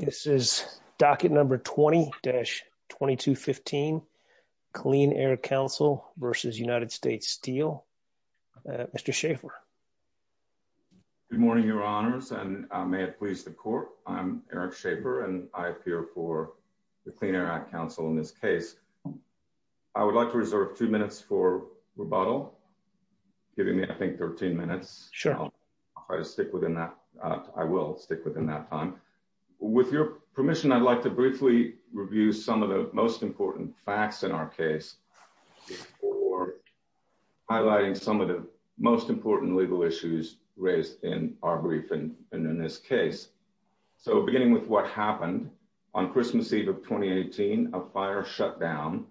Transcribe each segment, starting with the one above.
This is docket number 20-2215, Clean Air Council v. United States Steel. Mr. Schaffer. Good morning, your honors, and may it please the court. I'm Eric Schaffer, and I appear for the Clean Air Act Council in this case. I would like to reserve two minutes for rebuttal, giving me, I think, 13 minutes. I'll try to stick within that. I will stick within that time. With your permission, I'd like to briefly review some of the most important facts in our case, before highlighting some of the most important legal issues raised in our brief and in this case. So, beginning with what happened on Christmas Eve of 2018, a fire shut down,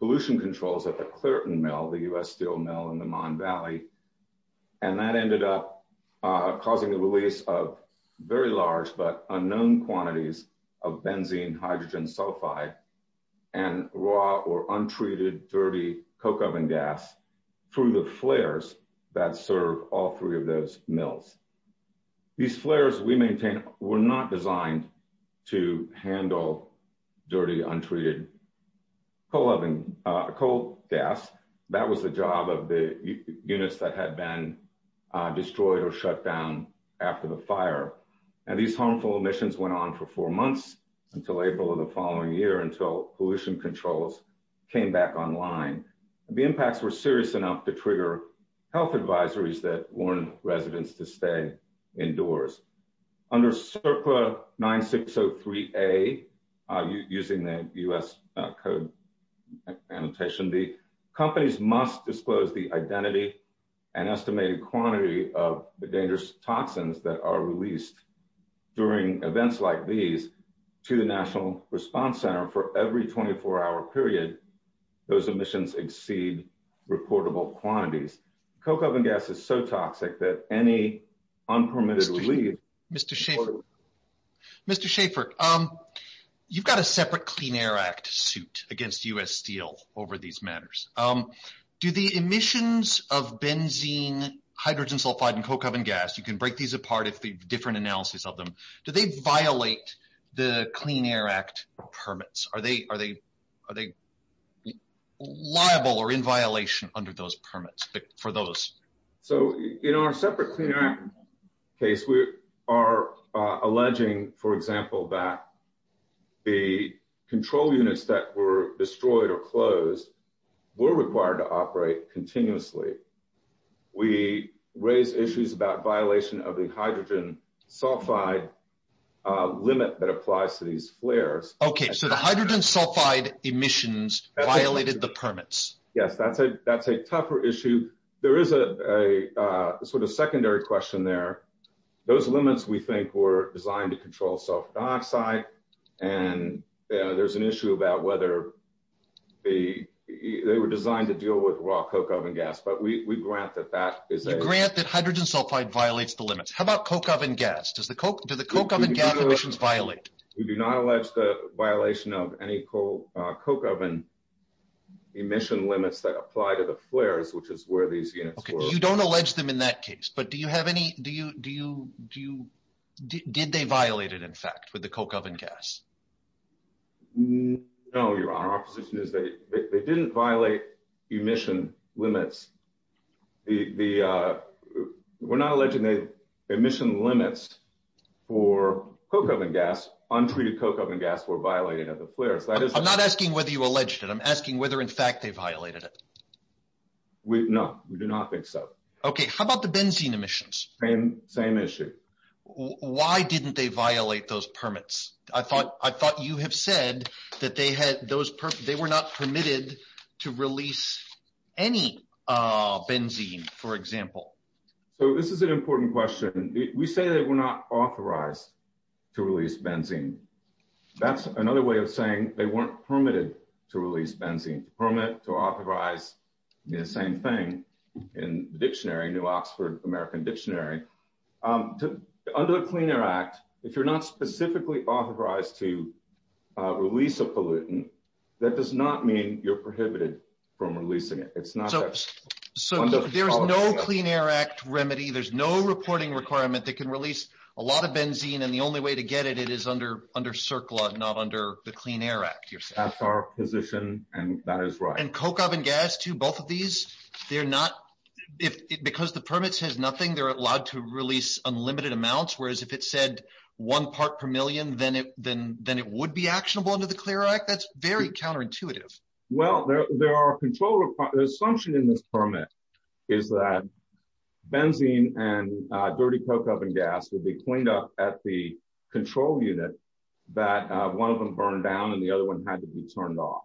pollution controls at the Clareton Mill, the US Steel Mill in the Mon Valley, and that ended up causing the release of very large but unknown quantities of benzene, hydrogen, sulfide, and raw or untreated dirty coke oven gas through the flares that serve all three of those mills. These flares we maintain were not designed to handle dirty, untreated coal gas. That was the job of the units that had been destroyed or shut down after the fire. And these harmful emissions went on for four months until April of the following year, until pollution controls came back online. The impacts were serious enough to trigger health advisories that warned residents to stay indoors. Under CERPA 9603A, using the US code annotation, the companies must disclose the identity and estimated quantity of the dangerous toxins that are released during events like these to the National Response Center for every 24-hour period. Those emissions exceed reportable quantities. Coke oven gas is so toxic that any unpermitted release— Mr. Schaeffer, you've got a separate Clean Air Act suit against US Steel over these matters. Do the emissions of benzene, hydrogen, sulfide, and coke oven gas—you can break these apart if there's a different analysis of them—do they violate the Clean Air Act permits? Are they liable or in violation under those permits for those? So in our separate Clean Air Act case, we are alleging, for example, that the control units that were destroyed or closed were required to operate continuously. We raise issues about violation of the hydrogen sulfide limit that applies to these flares. Okay, so the hydrogen sulfide emissions violated the permits. Yes, that's a tougher issue. There is a sort of secondary question there. Those limits, we think, were designed to control sulfur dioxide, and there's an issue about whether they were designed to deal with raw coke oven gas, but we grant that that is a— You grant that hydrogen sulfide violates the limits. How about coke oven gas? Do the coke oven gas emissions violate? We do not allege the violation of any coke oven emission limits that apply to the flares, which is where these units were— Okay, you don't allege them in that case, but do you have any—did they violate it, in fact, with the coke oven gas? No, Your Honor. Our position is that they didn't violate emission limits. We're not untreated coke oven gas were violating of the flares. That is— I'm not asking whether you alleged it. I'm asking whether, in fact, they violated it. No, we do not think so. Okay, how about the benzene emissions? Same issue. Why didn't they violate those permits? I thought you have said that they were not permitted to release any benzene, for example. So this is an important question. We say they were not authorized to release benzene. That's another way of saying they weren't permitted to release benzene. To permit, to authorize, the same thing in the dictionary, New Oxford American Dictionary. Under the Clean Air Act, if you're not specifically authorized to release a pollutant, that does not mean you're prohibited from releasing it. It's not— So there is no Clean Air Act remedy. There's no reporting requirement that can release a lot of benzene, and the only way to get it is under CERCLA, not under the Clean Air Act, you're saying? That's our position, and that is right. And coke oven gas, too, both of these, they're not— because the permit says nothing, they're allowed to release unlimited amounts, whereas if it said one part per million, then it would be actionable under the CLEAR Act? That's very counterintuitive. Well, there are control— the assumption in this permit is that benzene and dirty coke oven gas would be cleaned up at the control unit, that one of them burned down and the other one had to be turned off.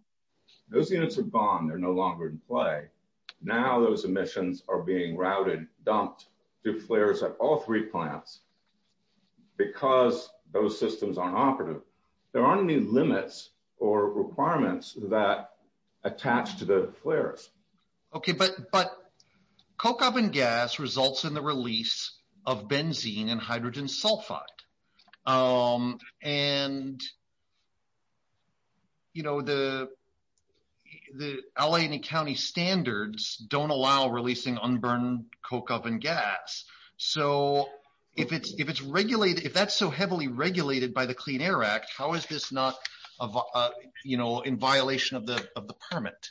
Those units are gone. They're no longer in play. Now those emissions are being routed, dumped, deflares at all three plants because those systems aren't operative. There aren't any limits or requirements that attach to the deflares. Okay, but coke oven gas results in the release of benzene and hydrogen sulfide, and you know, the L.A. and the county standards don't allow releasing unburned coke oven gas, so if that's so heavily regulated by the CLEAR Act, how is this not in violation of the permit?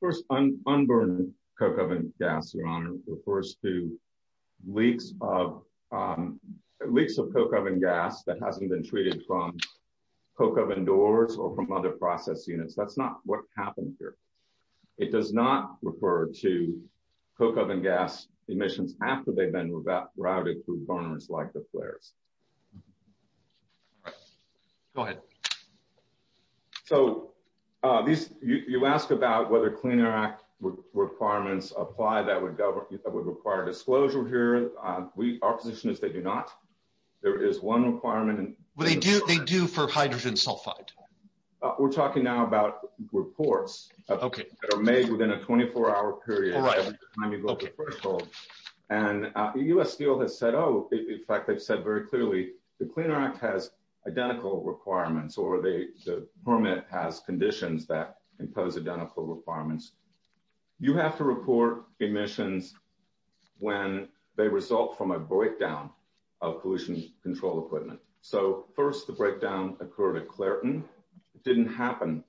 First, unburned coke oven gas, Your Honor, refers to leaks of coke oven gas that hasn't been treated from coke oven doors or from other process units. That's not what happened here. It does not refer to coke oven gas emissions after they've been routed through burners like deflares. Go ahead. So, you ask about whether CLEAR Act requirements apply that would require disclosure here. Our position is they do not. There is one requirement— Well, they do for hydrogen sulfide. We're talking now about reports. Okay. That are made within a 24-hour period every time you go to the threshold, and U.S. Steel has said, oh, in fact, they've said very clearly the CLEAR Act has identical requirements or the permit has conditions that impose identical requirements. You have to report emissions when they result from a breakdown of pollution control equipment. So, first, the breakdown occurred at Clairton. It didn't happen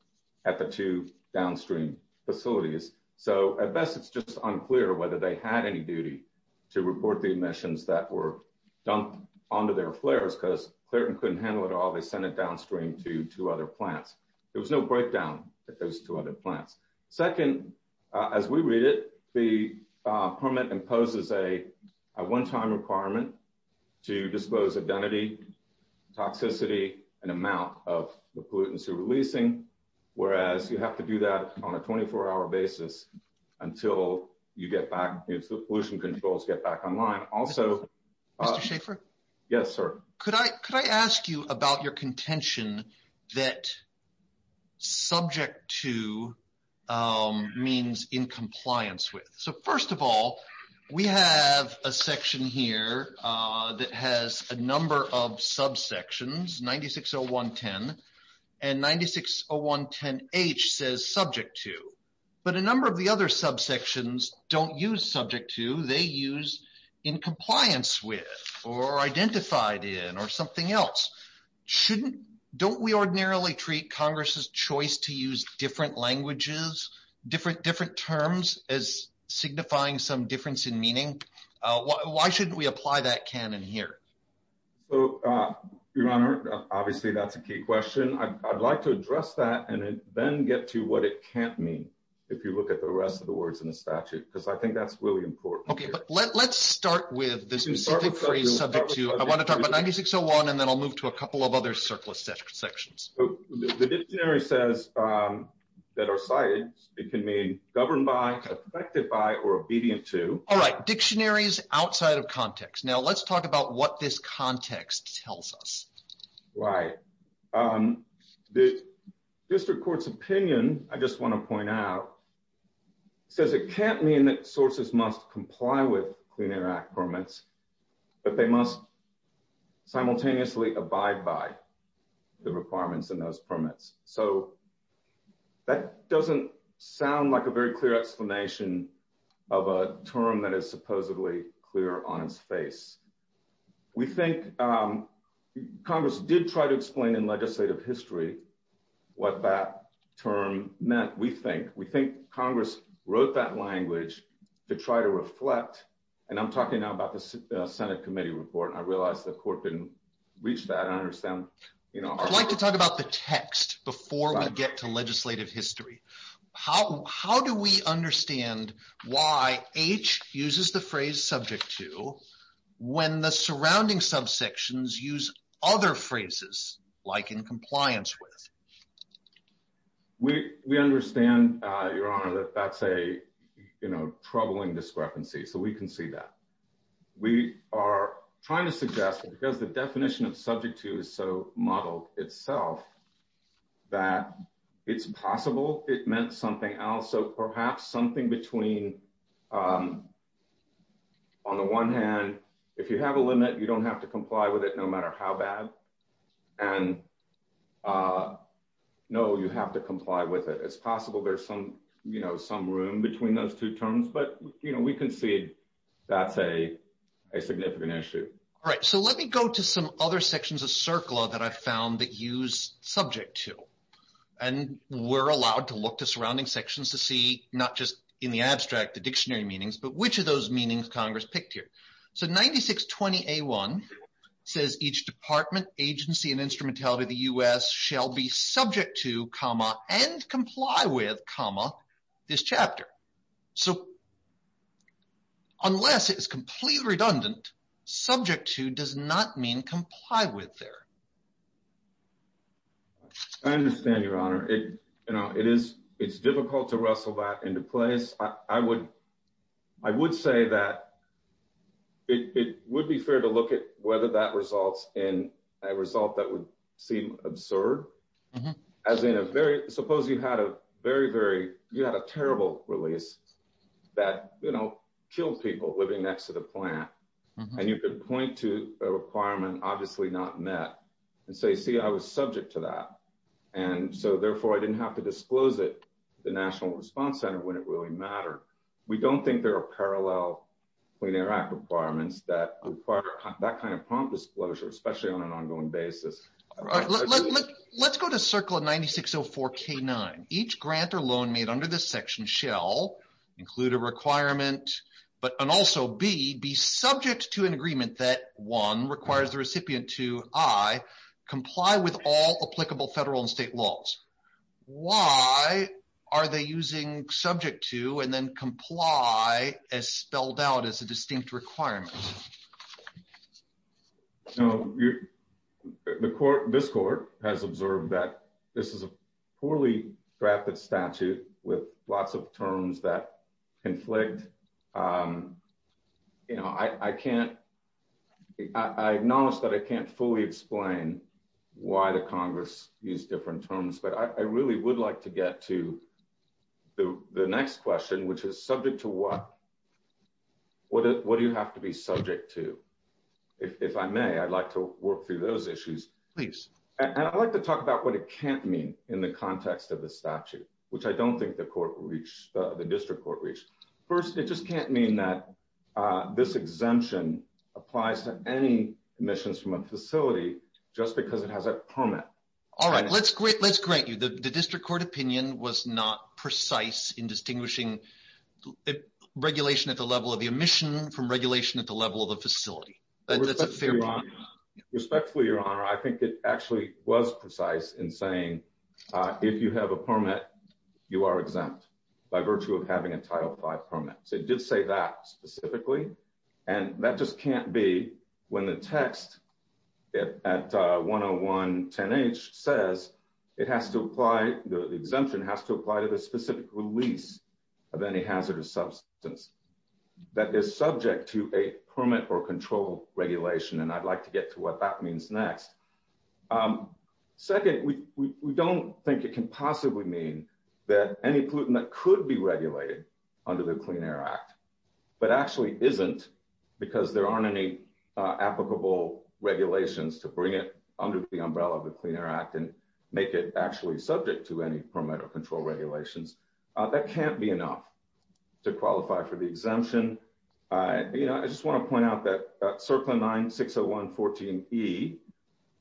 at the two downstream facilities. So, at best, it's just unclear whether they had any duty to report the emissions that were dumped onto their flares because Clairton couldn't handle it all. They sent it downstream to two other plants. There was no breakdown at those two other plants. Second, as we read it, the permit imposes a one-time requirement to dispose of identity, toxicity, and amount of the pollutants you're releasing, whereas you have to do that on a 24-hour basis until you get back—the pollution controls get back online. Also— Mr. Schaefer? Yes, sir. Could I ask you about your contention that subject to means in compliance with? First of all, we have a section here that has a number of subsections, 960110, and 960110H says subject to, but a number of the other subsections don't use subject to. They use in compliance with or identified in or something else. Don't we ordinarily treat Congress's choice to use different languages, different terms, as signifying some difference in meaning? Why shouldn't we apply that canon here? So, Your Honor, obviously that's a key question. I'd like to address that and then get to what it can't mean if you look at the rest of the words in the statute, because I think that's really important. Okay, but let's start with the specific phrase subject to. I want to talk about 9601, and then I'll move to a couple of other surplus sections. The dictionary says that are cited, it can mean governed by, affected by, or obedient to. All right, dictionaries outside of context. Now, let's talk about what this context tells us. Right. The district court's opinion, I just want to point out, says it can't mean that sources must comply with Clean Air Act permits, but they must simultaneously abide by the requirements in those permits. So, that doesn't sound like a very clear explanation of a term that is supposedly clear on its face. We think Congress did try to explain in legislative history what that term meant, we think. We think Congress wrote that language to try to reflect, and I'm talking now about the Senate committee report, and I realize the court didn't reach that. I understand, you know. I'd like to talk about the text before we get to legislative history. How do we understand why H uses the phrase subject to when the surrounding subsections use other phrases, like in compliance with? We understand, Your Honor, that that's a troubling discrepancy, so we can see that. We are trying to suggest that because the definition of subject to is so modeled itself, that it's possible it meant something else. So, perhaps something between, on the one hand, if you have a limit, you don't have to comply with it no matter how bad, and no, you have to comply with it. It's possible there's some, you know, some room between those two terms, but, you know, we can see that's a significant issue. All right. So, let me go to some other sections of CERCLA that I found that use subject to, and we're allowed to look to surrounding sections to see, not just in the abstract, the dictionary meanings, but which of those meanings Congress picked here. So, 9620A1 says each department, agency, and instrumentality of the U.S. shall be subject to, comma, and comply with, comma, this chapter. So, unless it is completely redundant, subject to does not mean comply with there. I understand, Your Honor. It, you know, it is, it's difficult to wrestle that into place. I would, I would say that it would be fair to look at whether that results in a result that would seem absurd, as in a very, suppose you had a very, very, you had a terrible release that, you know, killed people living next to the plant, and you could point to a requirement, obviously not met, and say, see, I was subject to that, and so, therefore, I didn't have to We don't think there are parallel Clean Air Act requirements that require that kind of prompt disclosure, especially on an ongoing basis. Let's go to Circle 9604K9. Each grant or loan made under this section shall include a requirement, but, and also be, be subject to an agreement that, one, requires the recipient to, I, comply with all applicable federal and state laws. Why are they using subject to, and then comply, as spelled out as a distinct requirement? So, the court, this court, has observed that this is a poorly drafted statute with lots of terms that conflict. You know, I can't, I acknowledge that I can't fully explain why the Congress used different terms, but I really would like to get to the next question, which is, subject to what? What do you have to be subject to? If I may, I'd like to work through those issues. Please. And I'd like to talk about what it can't mean in the context of the statute, which I don't think the court reached, the district court reached. First, it just can't mean that this exemption applies to any emissions from a facility just because it has a permit. All right, let's, let's grant you the district court opinion was not precise in distinguishing regulation at the level of the emission from regulation at the level of the facility. Respectfully, Your Honor, I think it actually was precise in saying, if you have a permit, you are exempt by virtue of having a Title V permit. So, it did say that specifically, and that just can't be when the text at 10110H says it has to apply, the exemption has to apply to the specific release of any hazardous substance that is subject to a permit or control regulation. And I'd like to get to what that means next. Second, we don't think it can possibly mean that any pollutant that could be regulated under the Clean Air Act, but actually isn't, because there aren't any applicable regulations to bring it under the umbrella of the Clean Air Act and make it actually subject to any permit or control regulations. That can't be enough to qualify for the exemption. You know, I just want to point out that Circlin 9601-14E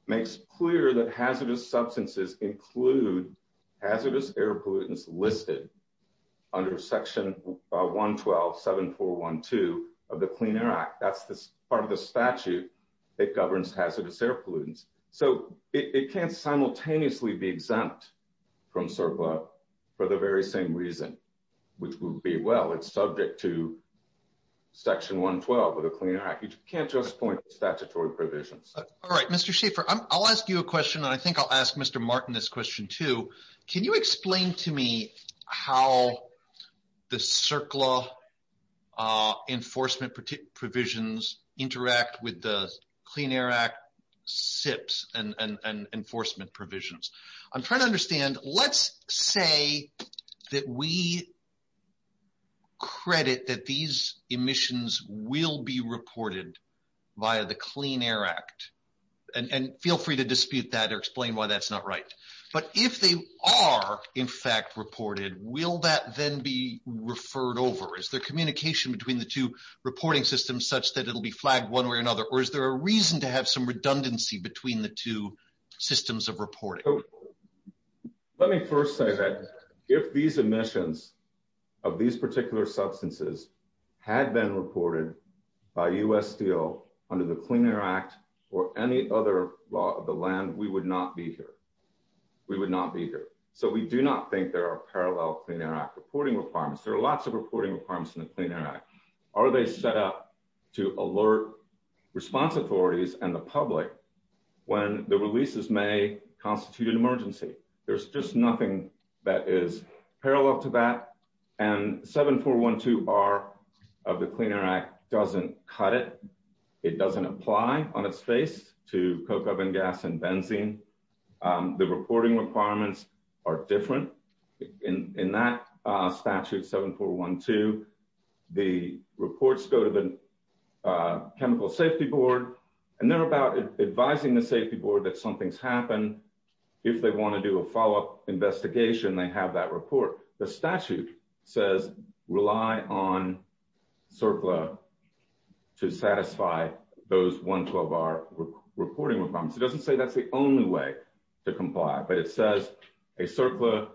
makes clear that hazardous substances include hazardous air pollutants listed under Section 112-7412 of the Clean Air Act. That's part of the statute that governs hazardous air pollutants. So, it can't simultaneously be exempt from CERPA for the very same reason, which would be, well, it's subject to Section 112 of the Clean Air Act. You can't just point to statutory provisions. All right, Mr. Schaefer, I'll ask you a question, and I think I'll ask Mr. Martin this question, too. Can you explain to me how the CERCLA enforcement provisions interact with the Clean Air Act SIPs and enforcement provisions? I'm trying to understand, let's say that we reported via the Clean Air Act, and feel free to dispute that or explain why that's not right, but if they are in fact reported, will that then be referred over? Is there communication between the two reporting systems such that it'll be flagged one way or another, or is there a reason to have some redundancy between the two systems of reporting? Let me first say that if these emissions of these particular substances had been reported by U.S. Steel under the Clean Air Act or any other law of the land, we would not be here. We would not be here. So, we do not think there are parallel Clean Air Act reporting requirements. There are lots of reporting requirements in the Clean Air Act. Are they set up to alert response authorities and the public when the releases may constitute an emergency? There's just nothing that is parallel to that, and 7412R of the Clean Air Act doesn't cut it. It doesn't apply on its face to coke, oven gas, and benzene. The reporting requirements are different. In that statute, 7412, the reports go to the Chemical Safety Board, and they're about advising the Safety Board that something's happened. If they want to do a follow-up investigation, they have that report. The statute says rely on CERCLA to satisfy those 112R reporting requirements. It doesn't say that's the only way to comply, but it says a CERCLA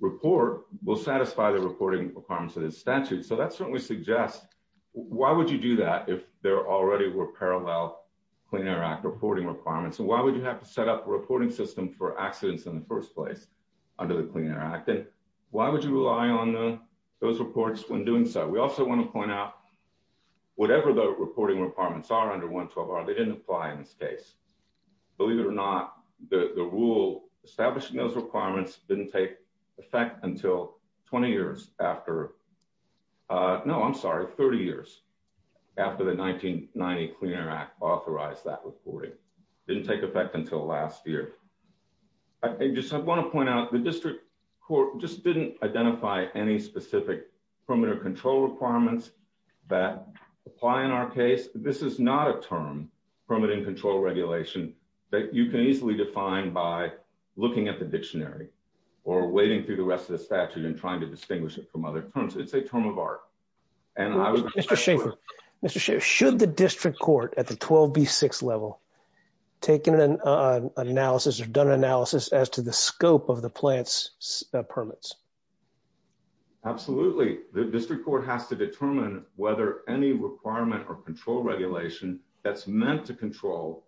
report will satisfy the reporting requirements of the statute. So, that certainly suggests why would you do that if there already were parallel Clean Air Act reporting requirements, and why would you have to set up a reporting system for accidents in the first place under the Clean Air Act, and why would you rely on those reports when doing so? We also want to point out whatever the reporting requirements are under 112R, they didn't apply in this case. Believe it or not, the rule establishing those requirements didn't take effect until 20 years after, no, I'm sorry, 30 years after the 1990 Clean Air Act authorized that reporting. It didn't take effect until last year. I just want to point out the district court just didn't identify any specific perimeter control requirements that apply in our case. This is not a term, permitting control regulation, that you can easily define by looking at the dictionary or wading through the rest of the statute and trying to distinguish it from other terms. It's a term of art. Mr. Schaffer, should the district court at the 12B6 level taken an analysis or done analysis as to the scope of the plant's permits? Absolutely. The district court has to determine whether any requirement or control regulation that's meant to control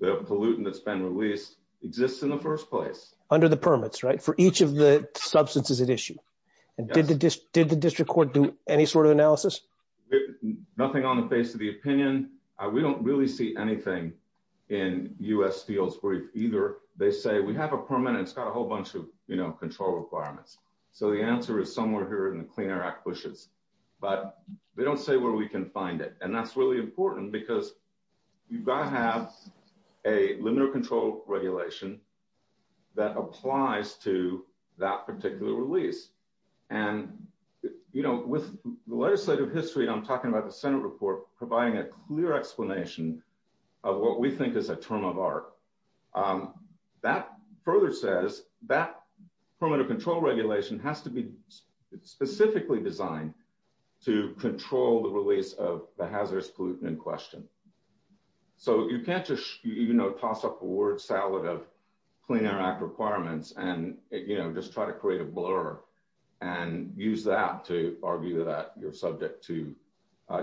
the pollutant that's been released exists in the first place. Under the permits, right? For each of the substances at issue. Did the district court do any sort of analysis? Nothing on the face of the opinion. We don't really see anything in U.S. Steel's brief either. They say we have a permit and it's got a whole bunch of control requirements. The answer is somewhere here in the Clean Air Act bushes, but they don't say where we can find it. That's really important because you've got to have a limited control regulation that applies to that particular release. With the legislative history, I'm talking about the Senate report providing a clear explanation of what we think is a term of art. That further says that permanent control regulation has to be specifically designed to control the release of the hazardous pollutant in question. You can't just toss up a word salad of Clean Air Act requirements and just try to create a blur and use that to argue that you're subject to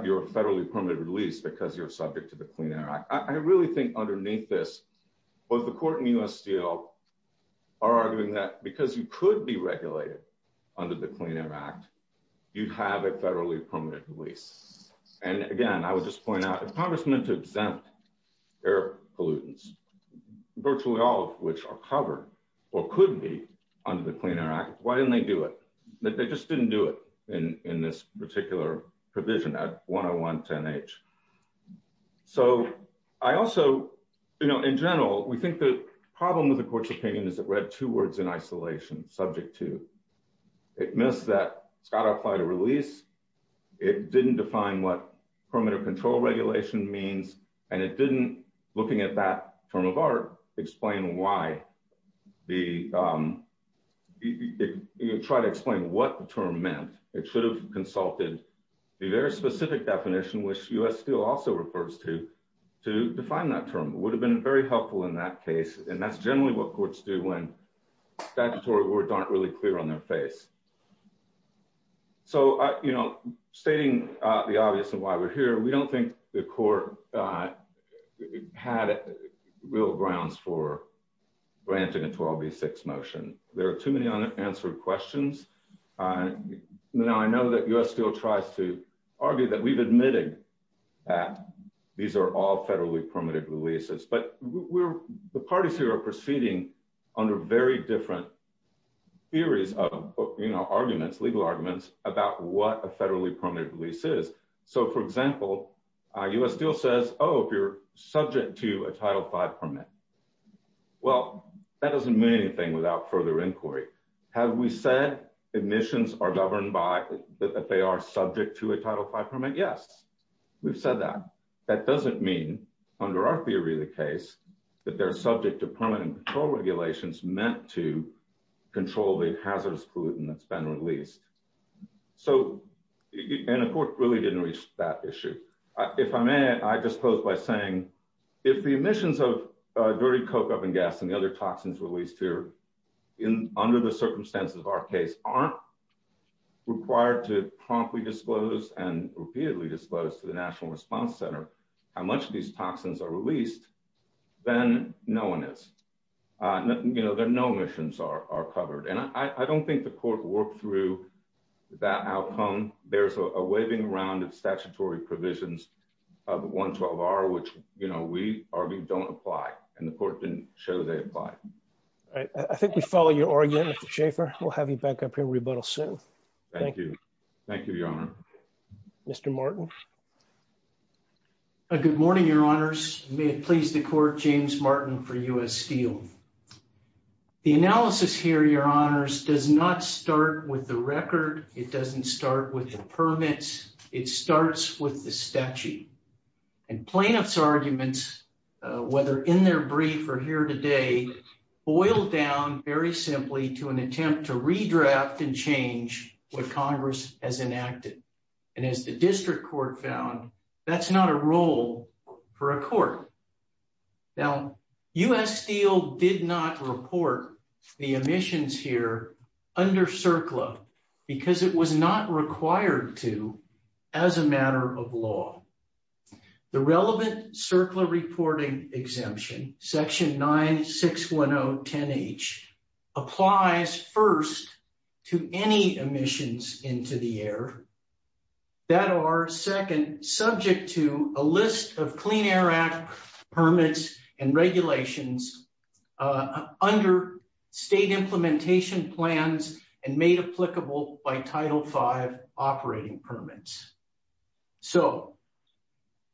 your federally permitted release because you're subject to the Clean Air Act. I really think underneath this, both the court and U.S. Steel are arguing that because you could be regulated under the Clean Air Act, you have a federally permitted release. Again, I would just point out if Congress meant to exempt air pollutants, virtually all of which are covered or could be under the Clean Air Act, why didn't they do it? They just didn't do it in this particular provision at 10110H. In general, we think the problem with the court's opinion is it read two words in isolation, subject to. It missed that it's got to apply to release. It didn't define what permanent control regulation means. It didn't, looking at that term of art, try to explain what the term meant. It should have consulted the very specific definition, which U.S. Steel also refers to, to define that term. It would have been very helpful in that case. That's generally what courts do when statutory words aren't really clear on their face. Stating the obvious and why we're here, we don't think the court had real grounds for granting a 12v6 motion. There are too many unanswered questions. I know that U.S. Steel tries to argue that we've admitted that these are all federally permitted releases, but the parties here are proceeding under very different theories, arguments, legal arguments about what a federally permitted release is. For example, U.S. Steel says, oh, if you're subject to a Title V permit, well, that doesn't mean anything without further inquiry. Have we said emissions are governed by, that they are subject to a Title V permit? Yes, we've said that. That doesn't mean, under our theory of the case, that they're subject to permanent control regulations meant to control the hazardous pollutant that's been released. The court really didn't reach that issue. If I may, I just close by saying, if the emissions of dirty coke, open gas, and the other toxins released here, under the circumstances of our case, aren't required to promptly disclose and repeatedly disclose to the National Response Center how much these toxins are released, then no one is. There are no emissions covered. I don't think the court worked through that outcome. There's a waving around of statutory provisions of 112R, which we argue don't apply, and the court didn't show they apply. All right. I think we follow your argument, Mr. Schaffer. We'll have you back up here and rebuttal soon. Thank you. Thank you, Your Honor. Mr. Martin. Good morning, Your Honors. May it please the court, James Martin for U.S. Steel. The analysis here, Your Honors, does not start with the record. It doesn't start with the permits. It starts with the statute. And plaintiff's arguments, whether in their brief or here today, boil down very simply to an attempt to redraft and change what Congress has enacted. And as district court found, that's not a role for a court. Now, U.S. Steel did not report the emissions here under CERCLA because it was not required to as a matter of law. The relevant CERCLA reporting exemption, section 961010H, applies first to any emissions into the air that are second subject to a list of Clean Air Act permits and regulations under state implementation plans and made applicable by Title V operating permits. So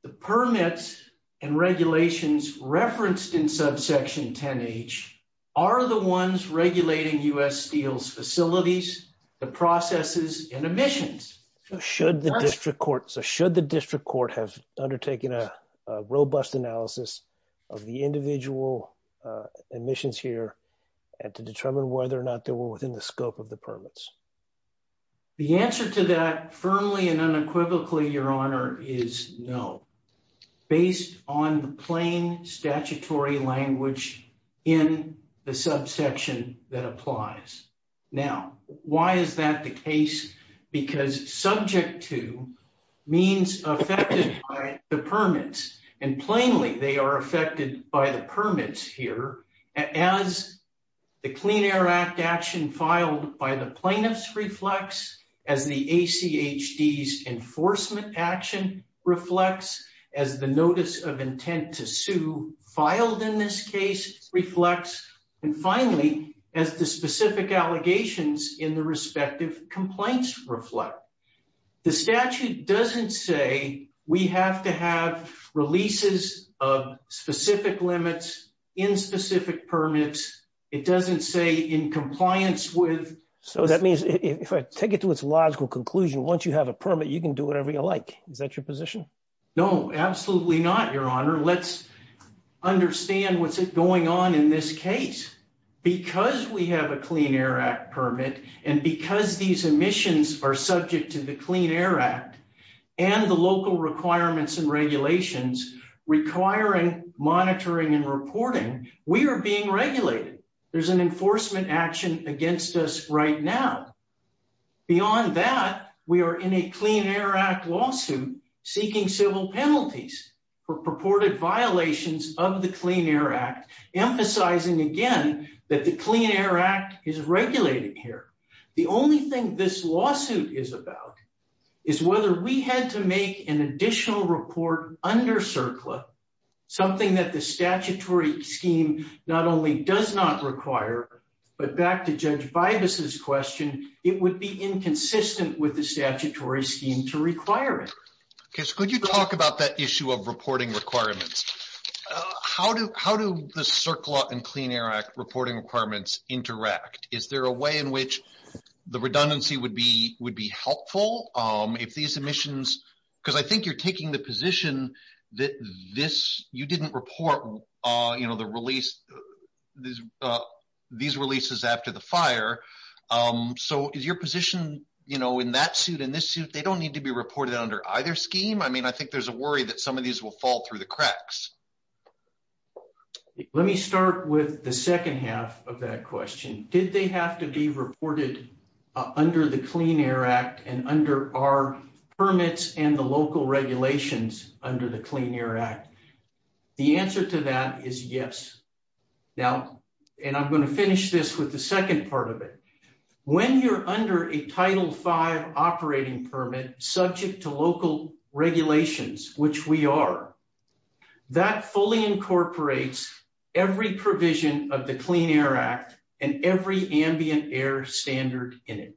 the permits and regulations referenced in subsection 10H are the ones regulating U.S. Steel's facilities, the processes, and emissions. Should the district court, so should the district court have undertaken a robust analysis of the permits? The answer to that firmly and unequivocally, Your Honor, is no, based on the plain statutory language in the subsection that applies. Now, why is that the case? Because subject to means affected by the permits. And plainly, they are affected by the permits here. As the Clean Air Act action filed by the plaintiffs reflects, as the ACHD's enforcement action reflects, as the notice of intent to sue filed in this case reflects, and finally, as the specific allegations in the respective complaints reflect. The statute doesn't say we have to have leases of specific limits in specific permits. It doesn't say in compliance with. So that means if I take it to its logical conclusion, once you have a permit, you can do whatever you like. Is that your position? No, absolutely not, Your Honor. Let's understand what's going on in this case. Because we have a Clean Air Act permit, and because these emissions are subject to the local requirements and regulations requiring monitoring and reporting, we are being regulated. There's an enforcement action against us right now. Beyond that, we are in a Clean Air Act lawsuit seeking civil penalties for purported violations of the Clean Air Act, emphasizing again that the additional report under CERCLA, something that the statutory scheme not only does not require, but back to Judge Bibas's question, it would be inconsistent with the statutory scheme to require it. Could you talk about that issue of reporting requirements? How do the CERCLA and Clean Air Act reporting requirements interact? Is there a way in which the redundancy would be helpful if these emissions, because I think you're taking the position that you didn't report these releases after the fire. So is your position in that suit and this suit, they don't need to be reported under either scheme? I mean, I think there's a worry that some of these will fall through the cracks. Let me start with the second half of that question. Did they have to be reported under the Clean Air Act and under our permits and the local regulations under the Clean Air Act? The answer to that is yes. Now, and I'm going to finish this with the second part of it. When you're under a Title V operating permit subject to local regulations, which we are, that fully incorporates every provision of the Clean Air Act and every ambient air standard in it.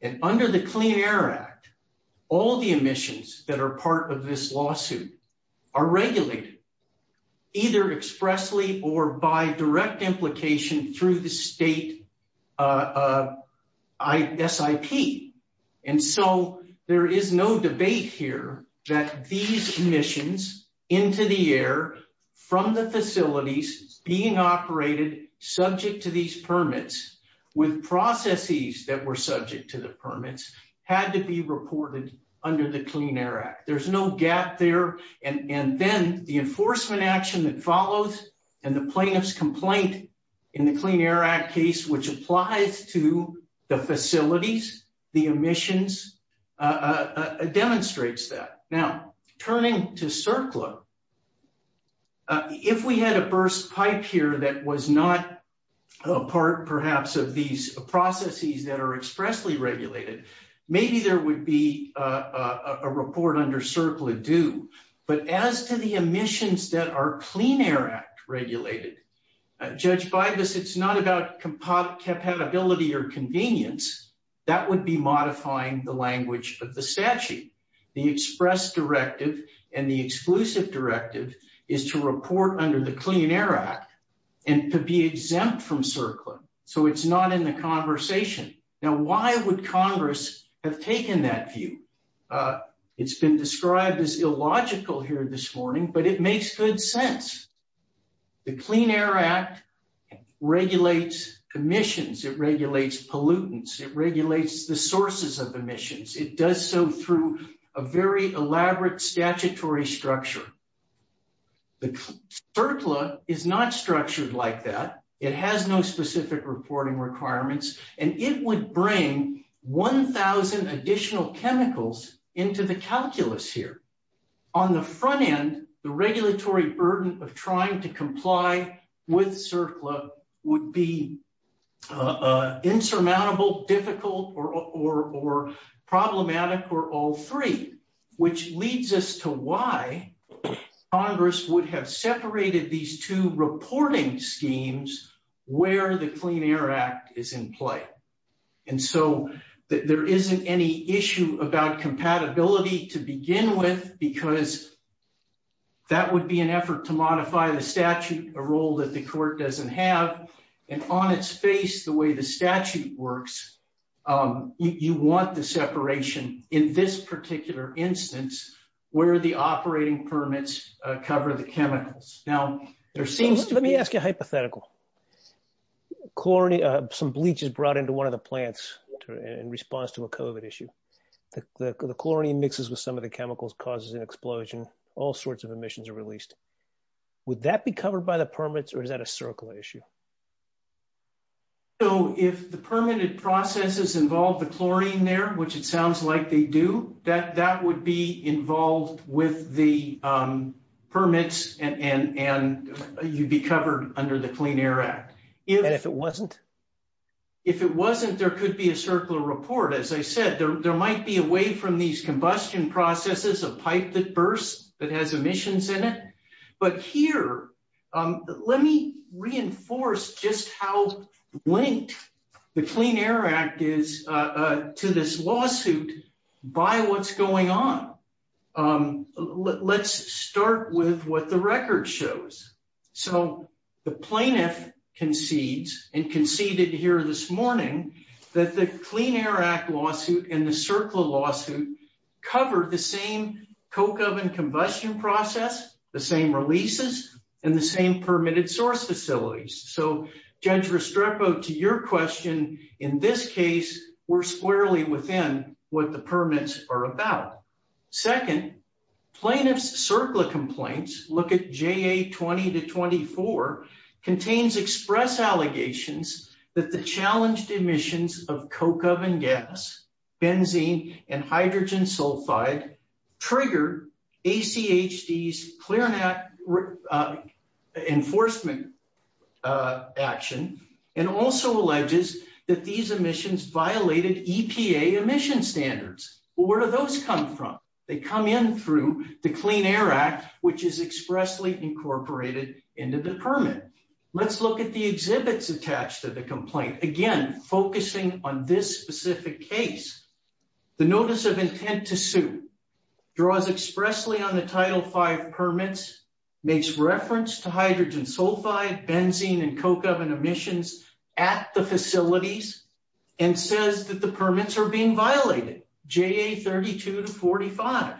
And under the Clean Air Act, all the emissions that are part of this lawsuit are regulated either expressly or by direct implication through the state SIP. And so there is no debate here that these emissions into the air from the facilities being operated subject to these permits with processes that were subject to the permits had to be reported under the Clean Air Act. There's no gap there. And then the enforcement action that follows and the plaintiff's complaint in the Clean Air Act case, which applies to the facilities, the emissions, demonstrates that. Now, turning to CERCLA, if we had a burst pipe here that was not a part, perhaps, of these processes that are expressly regulated, maybe there would be a report under CERCLA due. But as to the emissions that are Clean Air Act regulated, Judge Bibas, it's not about compatibility or convenience. That would be modifying the language of the statute. The express directive and the exclusive directive is to report under the Clean Air Act and to be exempt from CERCLA. So it's not in the conversation. Now, why would Congress have taken that view? It's been described as illogical here this morning, but it makes good sense. The Clean Air Act regulates emissions, it regulates pollutants, it regulates the sources of emissions. It does so through a very elaborate statutory structure. The CERCLA is not structured like that. It has no specific reporting requirements, and it would bring 1,000 additional chemicals into the calculus here. On the front end, the regulatory burden of trying to comply with CERCLA would be insurmountable, difficult, or problematic for all three, which leads us to why Congress would have separated these two reporting schemes where the Clean Air Act is in play. And so there isn't any issue about that would be an effort to modify the statute, a role that the court doesn't have. And on its face, the way the statute works, you want the separation in this particular instance where the operating permits cover the chemicals. Now, there seems to be... Let me ask you a hypothetical. Some bleach is brought into one of the plants in response to a COVID issue. The chlorine mixes with some of the chemicals, causes an explosion, all sorts emissions are released. Would that be covered by the permits or is that a CERCLA issue? So if the permitted processes involve the chlorine there, which it sounds like they do, that would be involved with the permits and you'd be covered under the Clean Air Act. And if it wasn't? If it wasn't, there could be a CERCLA report. As I said, there might be a way from these in it. But here, let me reinforce just how linked the Clean Air Act is to this lawsuit by what's going on. Let's start with what the record shows. So the plaintiff concedes and conceded here this morning that the Clean Air Act lawsuit and the CERCLA lawsuit cover the same coke oven combustion process, the same releases, and the same permitted source facilities. So Judge Restrepo, to your question, in this case we're squarely within what the permits are about. Second, plaintiff's CERCLA complaints, look at JA 20 to 24, contains express allegations that the challenged emissions of coke oven gas, benzene, and hydrogen sulfide triggered ACHD's enforcement action and also alleges that these emissions violated EPA emission standards. Well, where do those come from? They come in through the Clean Air Act, which is expressly incorporated into the permit. Let's look at the exhibits attached to the complaint. Again, focusing on this specific case, the notice of intent to sue draws expressly on the Title V permits, makes reference to hydrogen sulfide, benzene, and coke oven emissions at the facilities, and says that the permits are being violated, JA 32 to 45.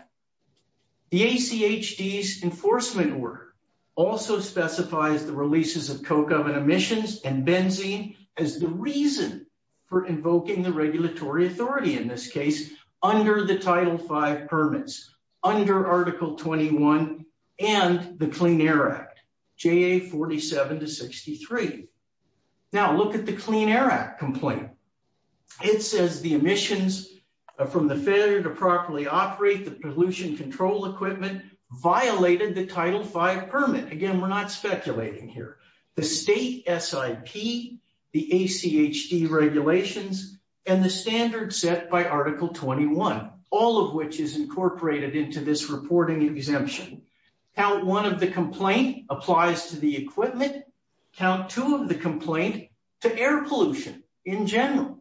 The ACHD's enforcement order also specifies the releases of coke oven emissions and benzene as the reason for invoking the regulatory authority, in this case under the Title V permits, under Article 21 and the Clean Air Act complaint. It says the emissions from the failure to properly operate the pollution control equipment violated the Title V permit. Again, we're not speculating here. The state SIP, the ACHD regulations, and the standard set by Article 21, all of which is incorporated into this reporting exemption. Count one of the complaint applies to the equipment. Count two of the complaint to air pollution, in general.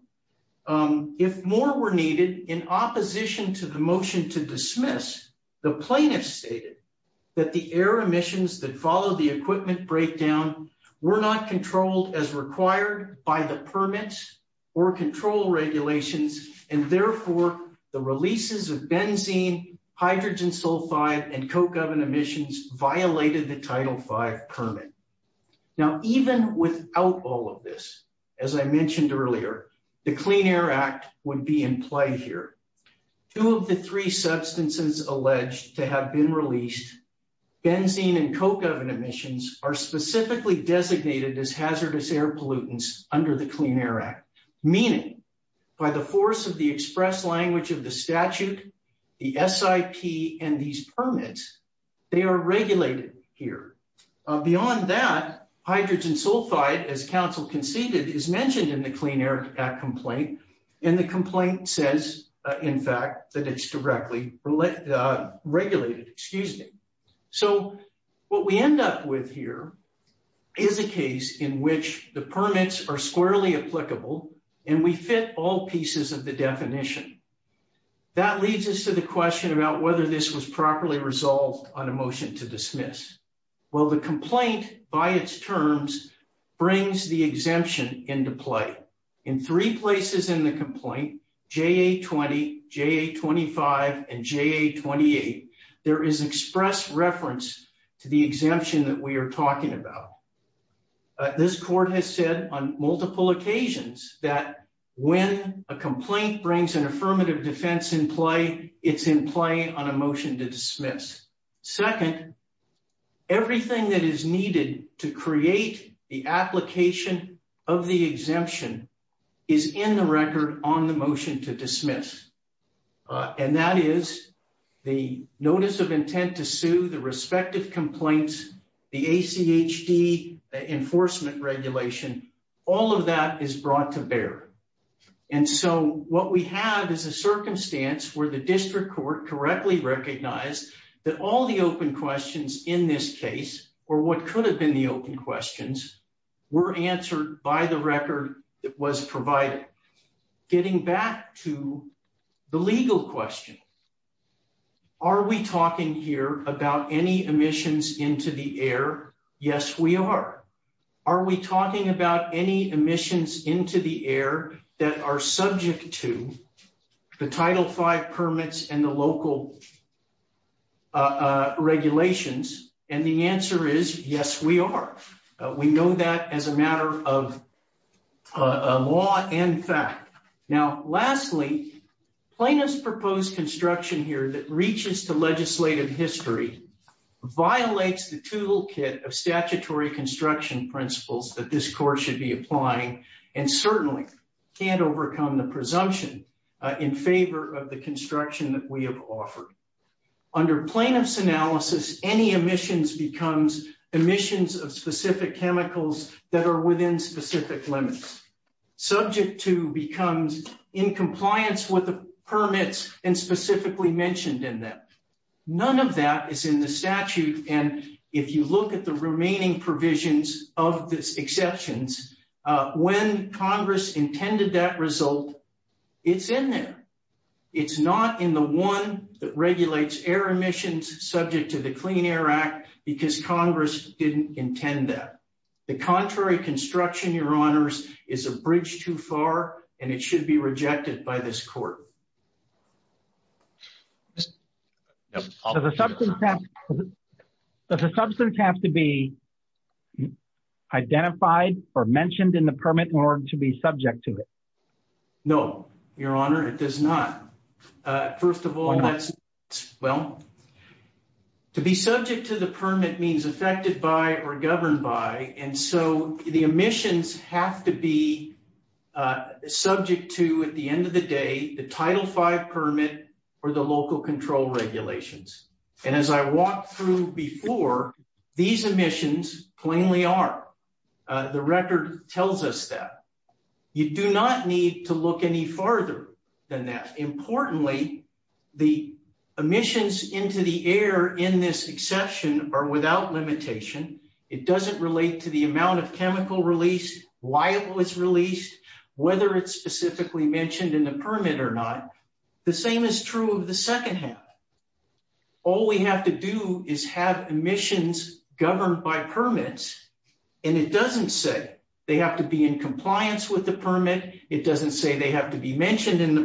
If more were needed, in opposition to the motion to dismiss, the plaintiff stated that the air emissions that follow the equipment breakdown were not controlled as required by the permits or control regulations, and therefore the releases of benzene, hydrogen sulfide, and coke oven emissions violated the Title V permit. Now, even without all of this, as I mentioned earlier, the Clean Air Act would be in play here. Two of the three substances alleged to have been released, benzene and coke oven emissions, are specifically designated as hazardous air pollutants under the Clean Air Act, meaning by the force of the express language of the statute, the SIP, and these permits, they are regulated here. Beyond that, hydrogen sulfide, as council conceded, is mentioned in the Clean Air Act complaint, and the complaint says, in fact, that it's directly regulated. So what we end up with is a case in which the permits are squarely applicable and we fit all pieces of the definition. That leads us to the question about whether this was properly resolved on a motion to dismiss. Well, the complaint, by its terms, brings the exemption into play. In three places in the complaint, JA20, JA25, and JA28, there is express reference to the exemption that we are talking about. This court has said on multiple occasions that when a complaint brings an affirmative defense in play, it's in play on a motion to dismiss. Second, everything that is needed to create the application of the exemption is in the record on the motion to dismiss, and that is the notice of intent to sue, the respective complaints, the ACHD enforcement regulation. All of that is brought to bear. And so what we have is a circumstance where the district court correctly recognized that all the open questions in this case, or what could have been the open questions, were answered by the record that was provided. Getting back to the legal question, are we talking here about any emissions into the air? Yes, we are. Are we talking about any emissions into the air that are subject to the Title V permits and the local regulations? And the answer is, yes, we are. We know that as a matter of a law and fact. Now, lastly, plaintiff's proposed construction here that reaches to legislative history violates the toolkit of statutory construction principles that this court should be applying and certainly can't overcome the presumption in favor of the construction that we have offered. Under plaintiff's analysis, any emissions becomes emissions of specific chemicals that are within specific limits. Subject to becomes in compliance with the permits and specifically mentioned in that. None of that is in the statute. And if you look at the remaining provisions of this exceptions, when Congress intended that result, it's in there. It's not in the one that regulates air emissions subject to the Clean Air Act because Congress didn't intend that. The contrary construction, Your Honors, is a bridge too far and it should be rejected by this court. Does the substance have to be identified or mentioned in the permit in order to be subject to it? No, Your Honor, it does not. First of all, that's, well, to be subject to the permit means affected by or governed by. And so the emissions have to be subject to, at the end of the day, the Title V permit or the local control regulations. And as I walked through before, these emissions plainly are. The record tells us that. You do not need to look any farther than that. Importantly, the emissions into the air in this exception are without limitation. It doesn't relate to the amount of chemical release, why it was released, whether it's specifically mentioned in the permit or not. The same is true of the second half. All we have to do is have emissions governed by permits. And it doesn't say they have to be in in the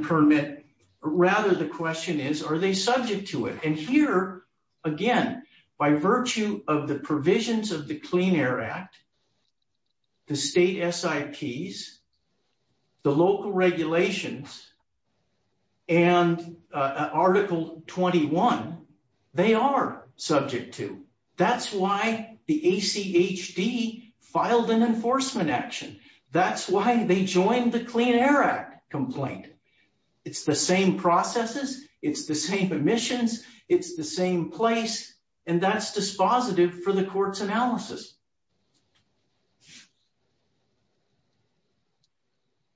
permit. Rather, the question is, are they subject to it? And here again, by virtue of the provisions of the Clean Air Act, the state SIPs, the local regulations, and Article 21, they are subject to. That's why the ACHD filed an enforcement action. That's why they joined the Clean Air Act complaint. It's the same processes. It's the same emissions. It's the same place. And that's dispositive for the court's analysis.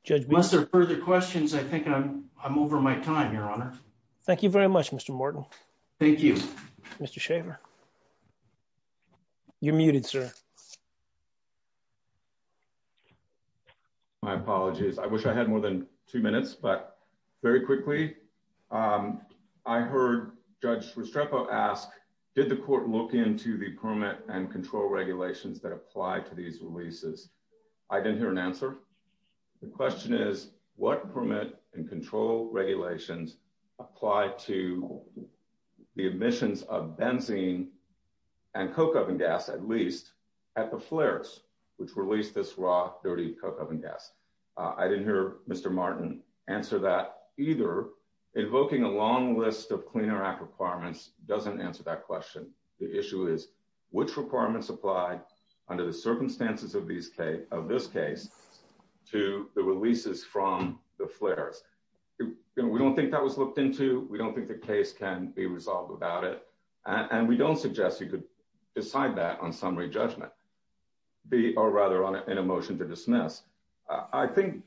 Judge, unless there are further questions, I think I'm over my time, Your Honor. Thank you very much, Mr. Morton. Thank you, Mr. Shaver. You're muted, sir. My apologies. I wish I had more than two minutes, but very quickly. I heard Judge Restrepo ask, did the court look into the permit and control regulations that apply to these releases? I didn't hear an answer. The question is, what permit and control regulations apply to the emissions of benzene and coke oven gas, at least, at the flares which released this dirty coke oven gas? I didn't hear Mr. Morton answer that either. Invoking a long list of Clean Air Act requirements doesn't answer that question. The issue is, which requirements apply under the circumstances of this case to the releases from the flares? We don't think that was looked into. We don't think the case can be resolved without it. And we don't suggest you decide that on summary judgment, or rather on a motion to dismiss. I think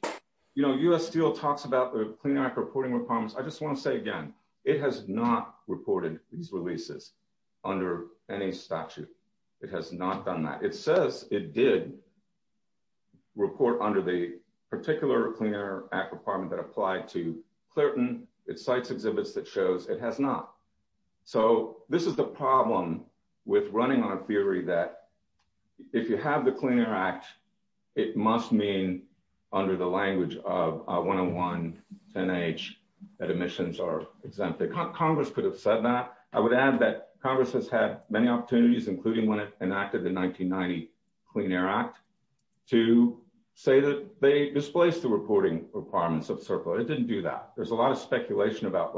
U.S. Steel talks about the Clean Air Act reporting requirements. I just want to say again, it has not reported these releases under any statute. It has not done that. It says it did report under the particular Clean Air Act requirement that applied to running on a theory that if you have the Clean Air Act, it must mean under the language of 101 10H that emissions are exempted. Congress could have said that. I would add that Congress has had many opportunities, including when it enacted the 1990 Clean Air Act, to say that they displaced the reporting requirements of CERCLA. It didn't do that. There's a lot of speculation about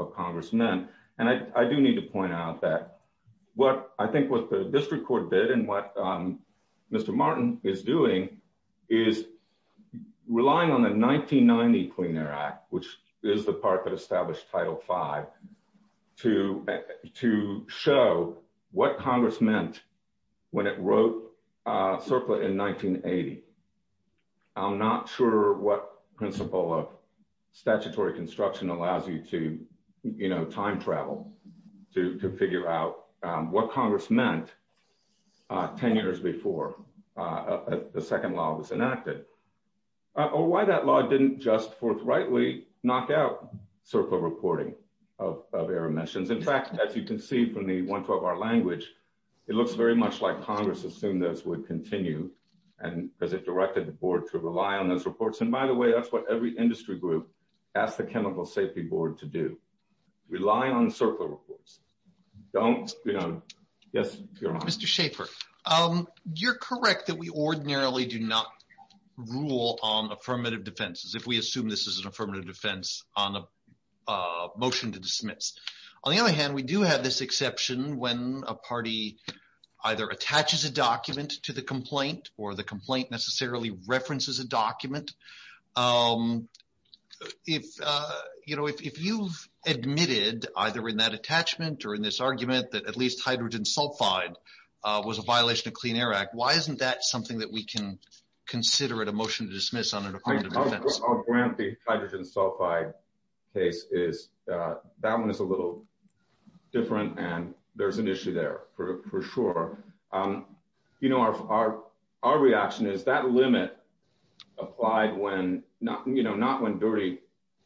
what the district court did and what Mr. Martin is doing, is relying on the 1990 Clean Air Act, which is the part that established Title V, to show what Congress meant when it wrote CERCLA in 1980. I'm not sure what principle of statutory construction allows you to time travel to figure out what Congress meant 10 years before the second law was enacted, or why that law didn't just forthrightly knock out CERCLA reporting of air emissions. In fact, as you can see from the 112R language, it looks very much like Congress assumed this would continue because it directed the board to rely on those reports. By the way, that's what every industry group asked the board to do. Mr. Schaffer, you're correct that we ordinarily do not rule on affirmative defenses, if we assume this is an affirmative defense on a motion to dismiss. On the other hand, we do have this exception when a party either attaches a document to the complaint or the complaint necessarily references a document. If you've admitted, either in that attachment or in this argument, that at least hydrogen sulfide was a violation of the Clean Air Act, why isn't that something that we can consider it a motion to dismiss on an affirmative defense? I'll grant the hydrogen sulfide case. That one is a little different, and there's an issue there, for sure. Our reaction is that limit applied not when dirty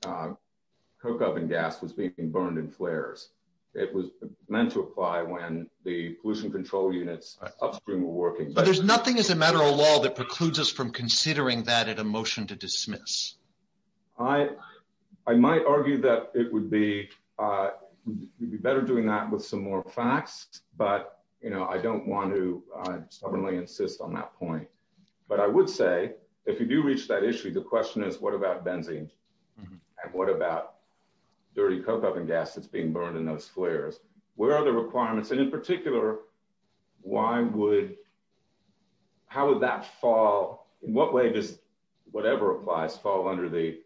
coke oven gas was being burned in flares. It was meant to apply when the pollution control units upstream were working. But there's nothing as a matter of law that precludes us from considering that at a motion to dismiss. I might argue that it would be better doing that with some more facts, but I don't want to stubbornly insist on that point. But I would say, if you do reach that issue, the question is, what about benzene? And what about dirty coke oven gas that's being burned in those flares? Where are the requirements? And in particular, how would that fall? In what way does whatever applies fall under the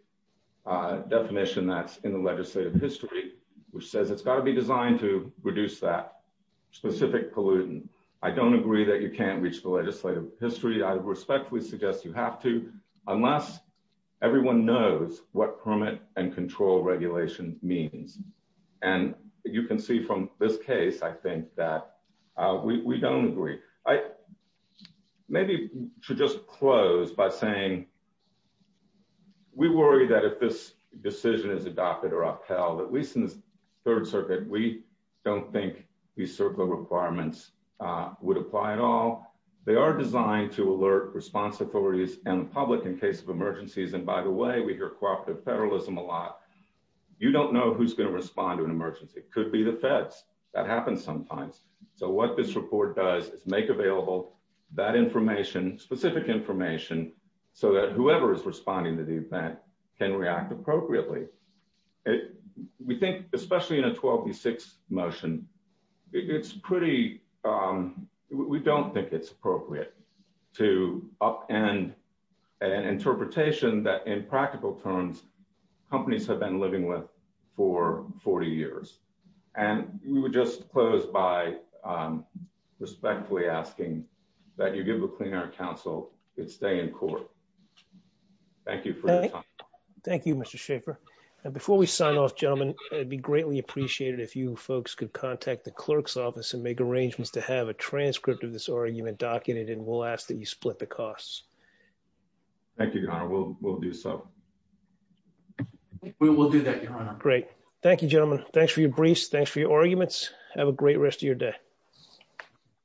definition that's in the legislative history, which says it's got to be designed to reduce that specific pollutant? I don't agree that you can't reach the legislative history. I respectfully suggest you have to, unless everyone knows what permit and control regulation means. And you can see from this case, I think that we don't agree. I maybe should just close by saying we worry that if this decision is adopted or upheld, at least in the Third Circuit, we don't think these circular requirements would apply at all. They are designed to alert response authorities and the public in case of emergencies. And by the way, we hear cooperative federalism a lot. You don't know who's going to respond to an emergency. It could be the feds. That happens sometimes. So what this report does is make available that information, specific information, so that whoever is responding to the event can react appropriately. We think, especially in a 12 v. 6 motion, we don't think it's appropriate to upend an interpretation that in practical terms, companies have been living with for 40 years. And we would just close by respectfully asking that you give the Clean Air Council its day in court. Thank you for your time. Thank you, Mr. Schaffer. And before we sign off, gentlemen, it'd be greatly appreciated if you folks could contact the clerk's office and make arrangements to have a transcript of this argument documented, and we'll ask that you split the costs. Thank you, Your Honor. We'll do so. We will do that, Your Honor. Great. Thank you, gentlemen. Thanks for your briefs. Thanks for your arguments. Have a great rest of your day.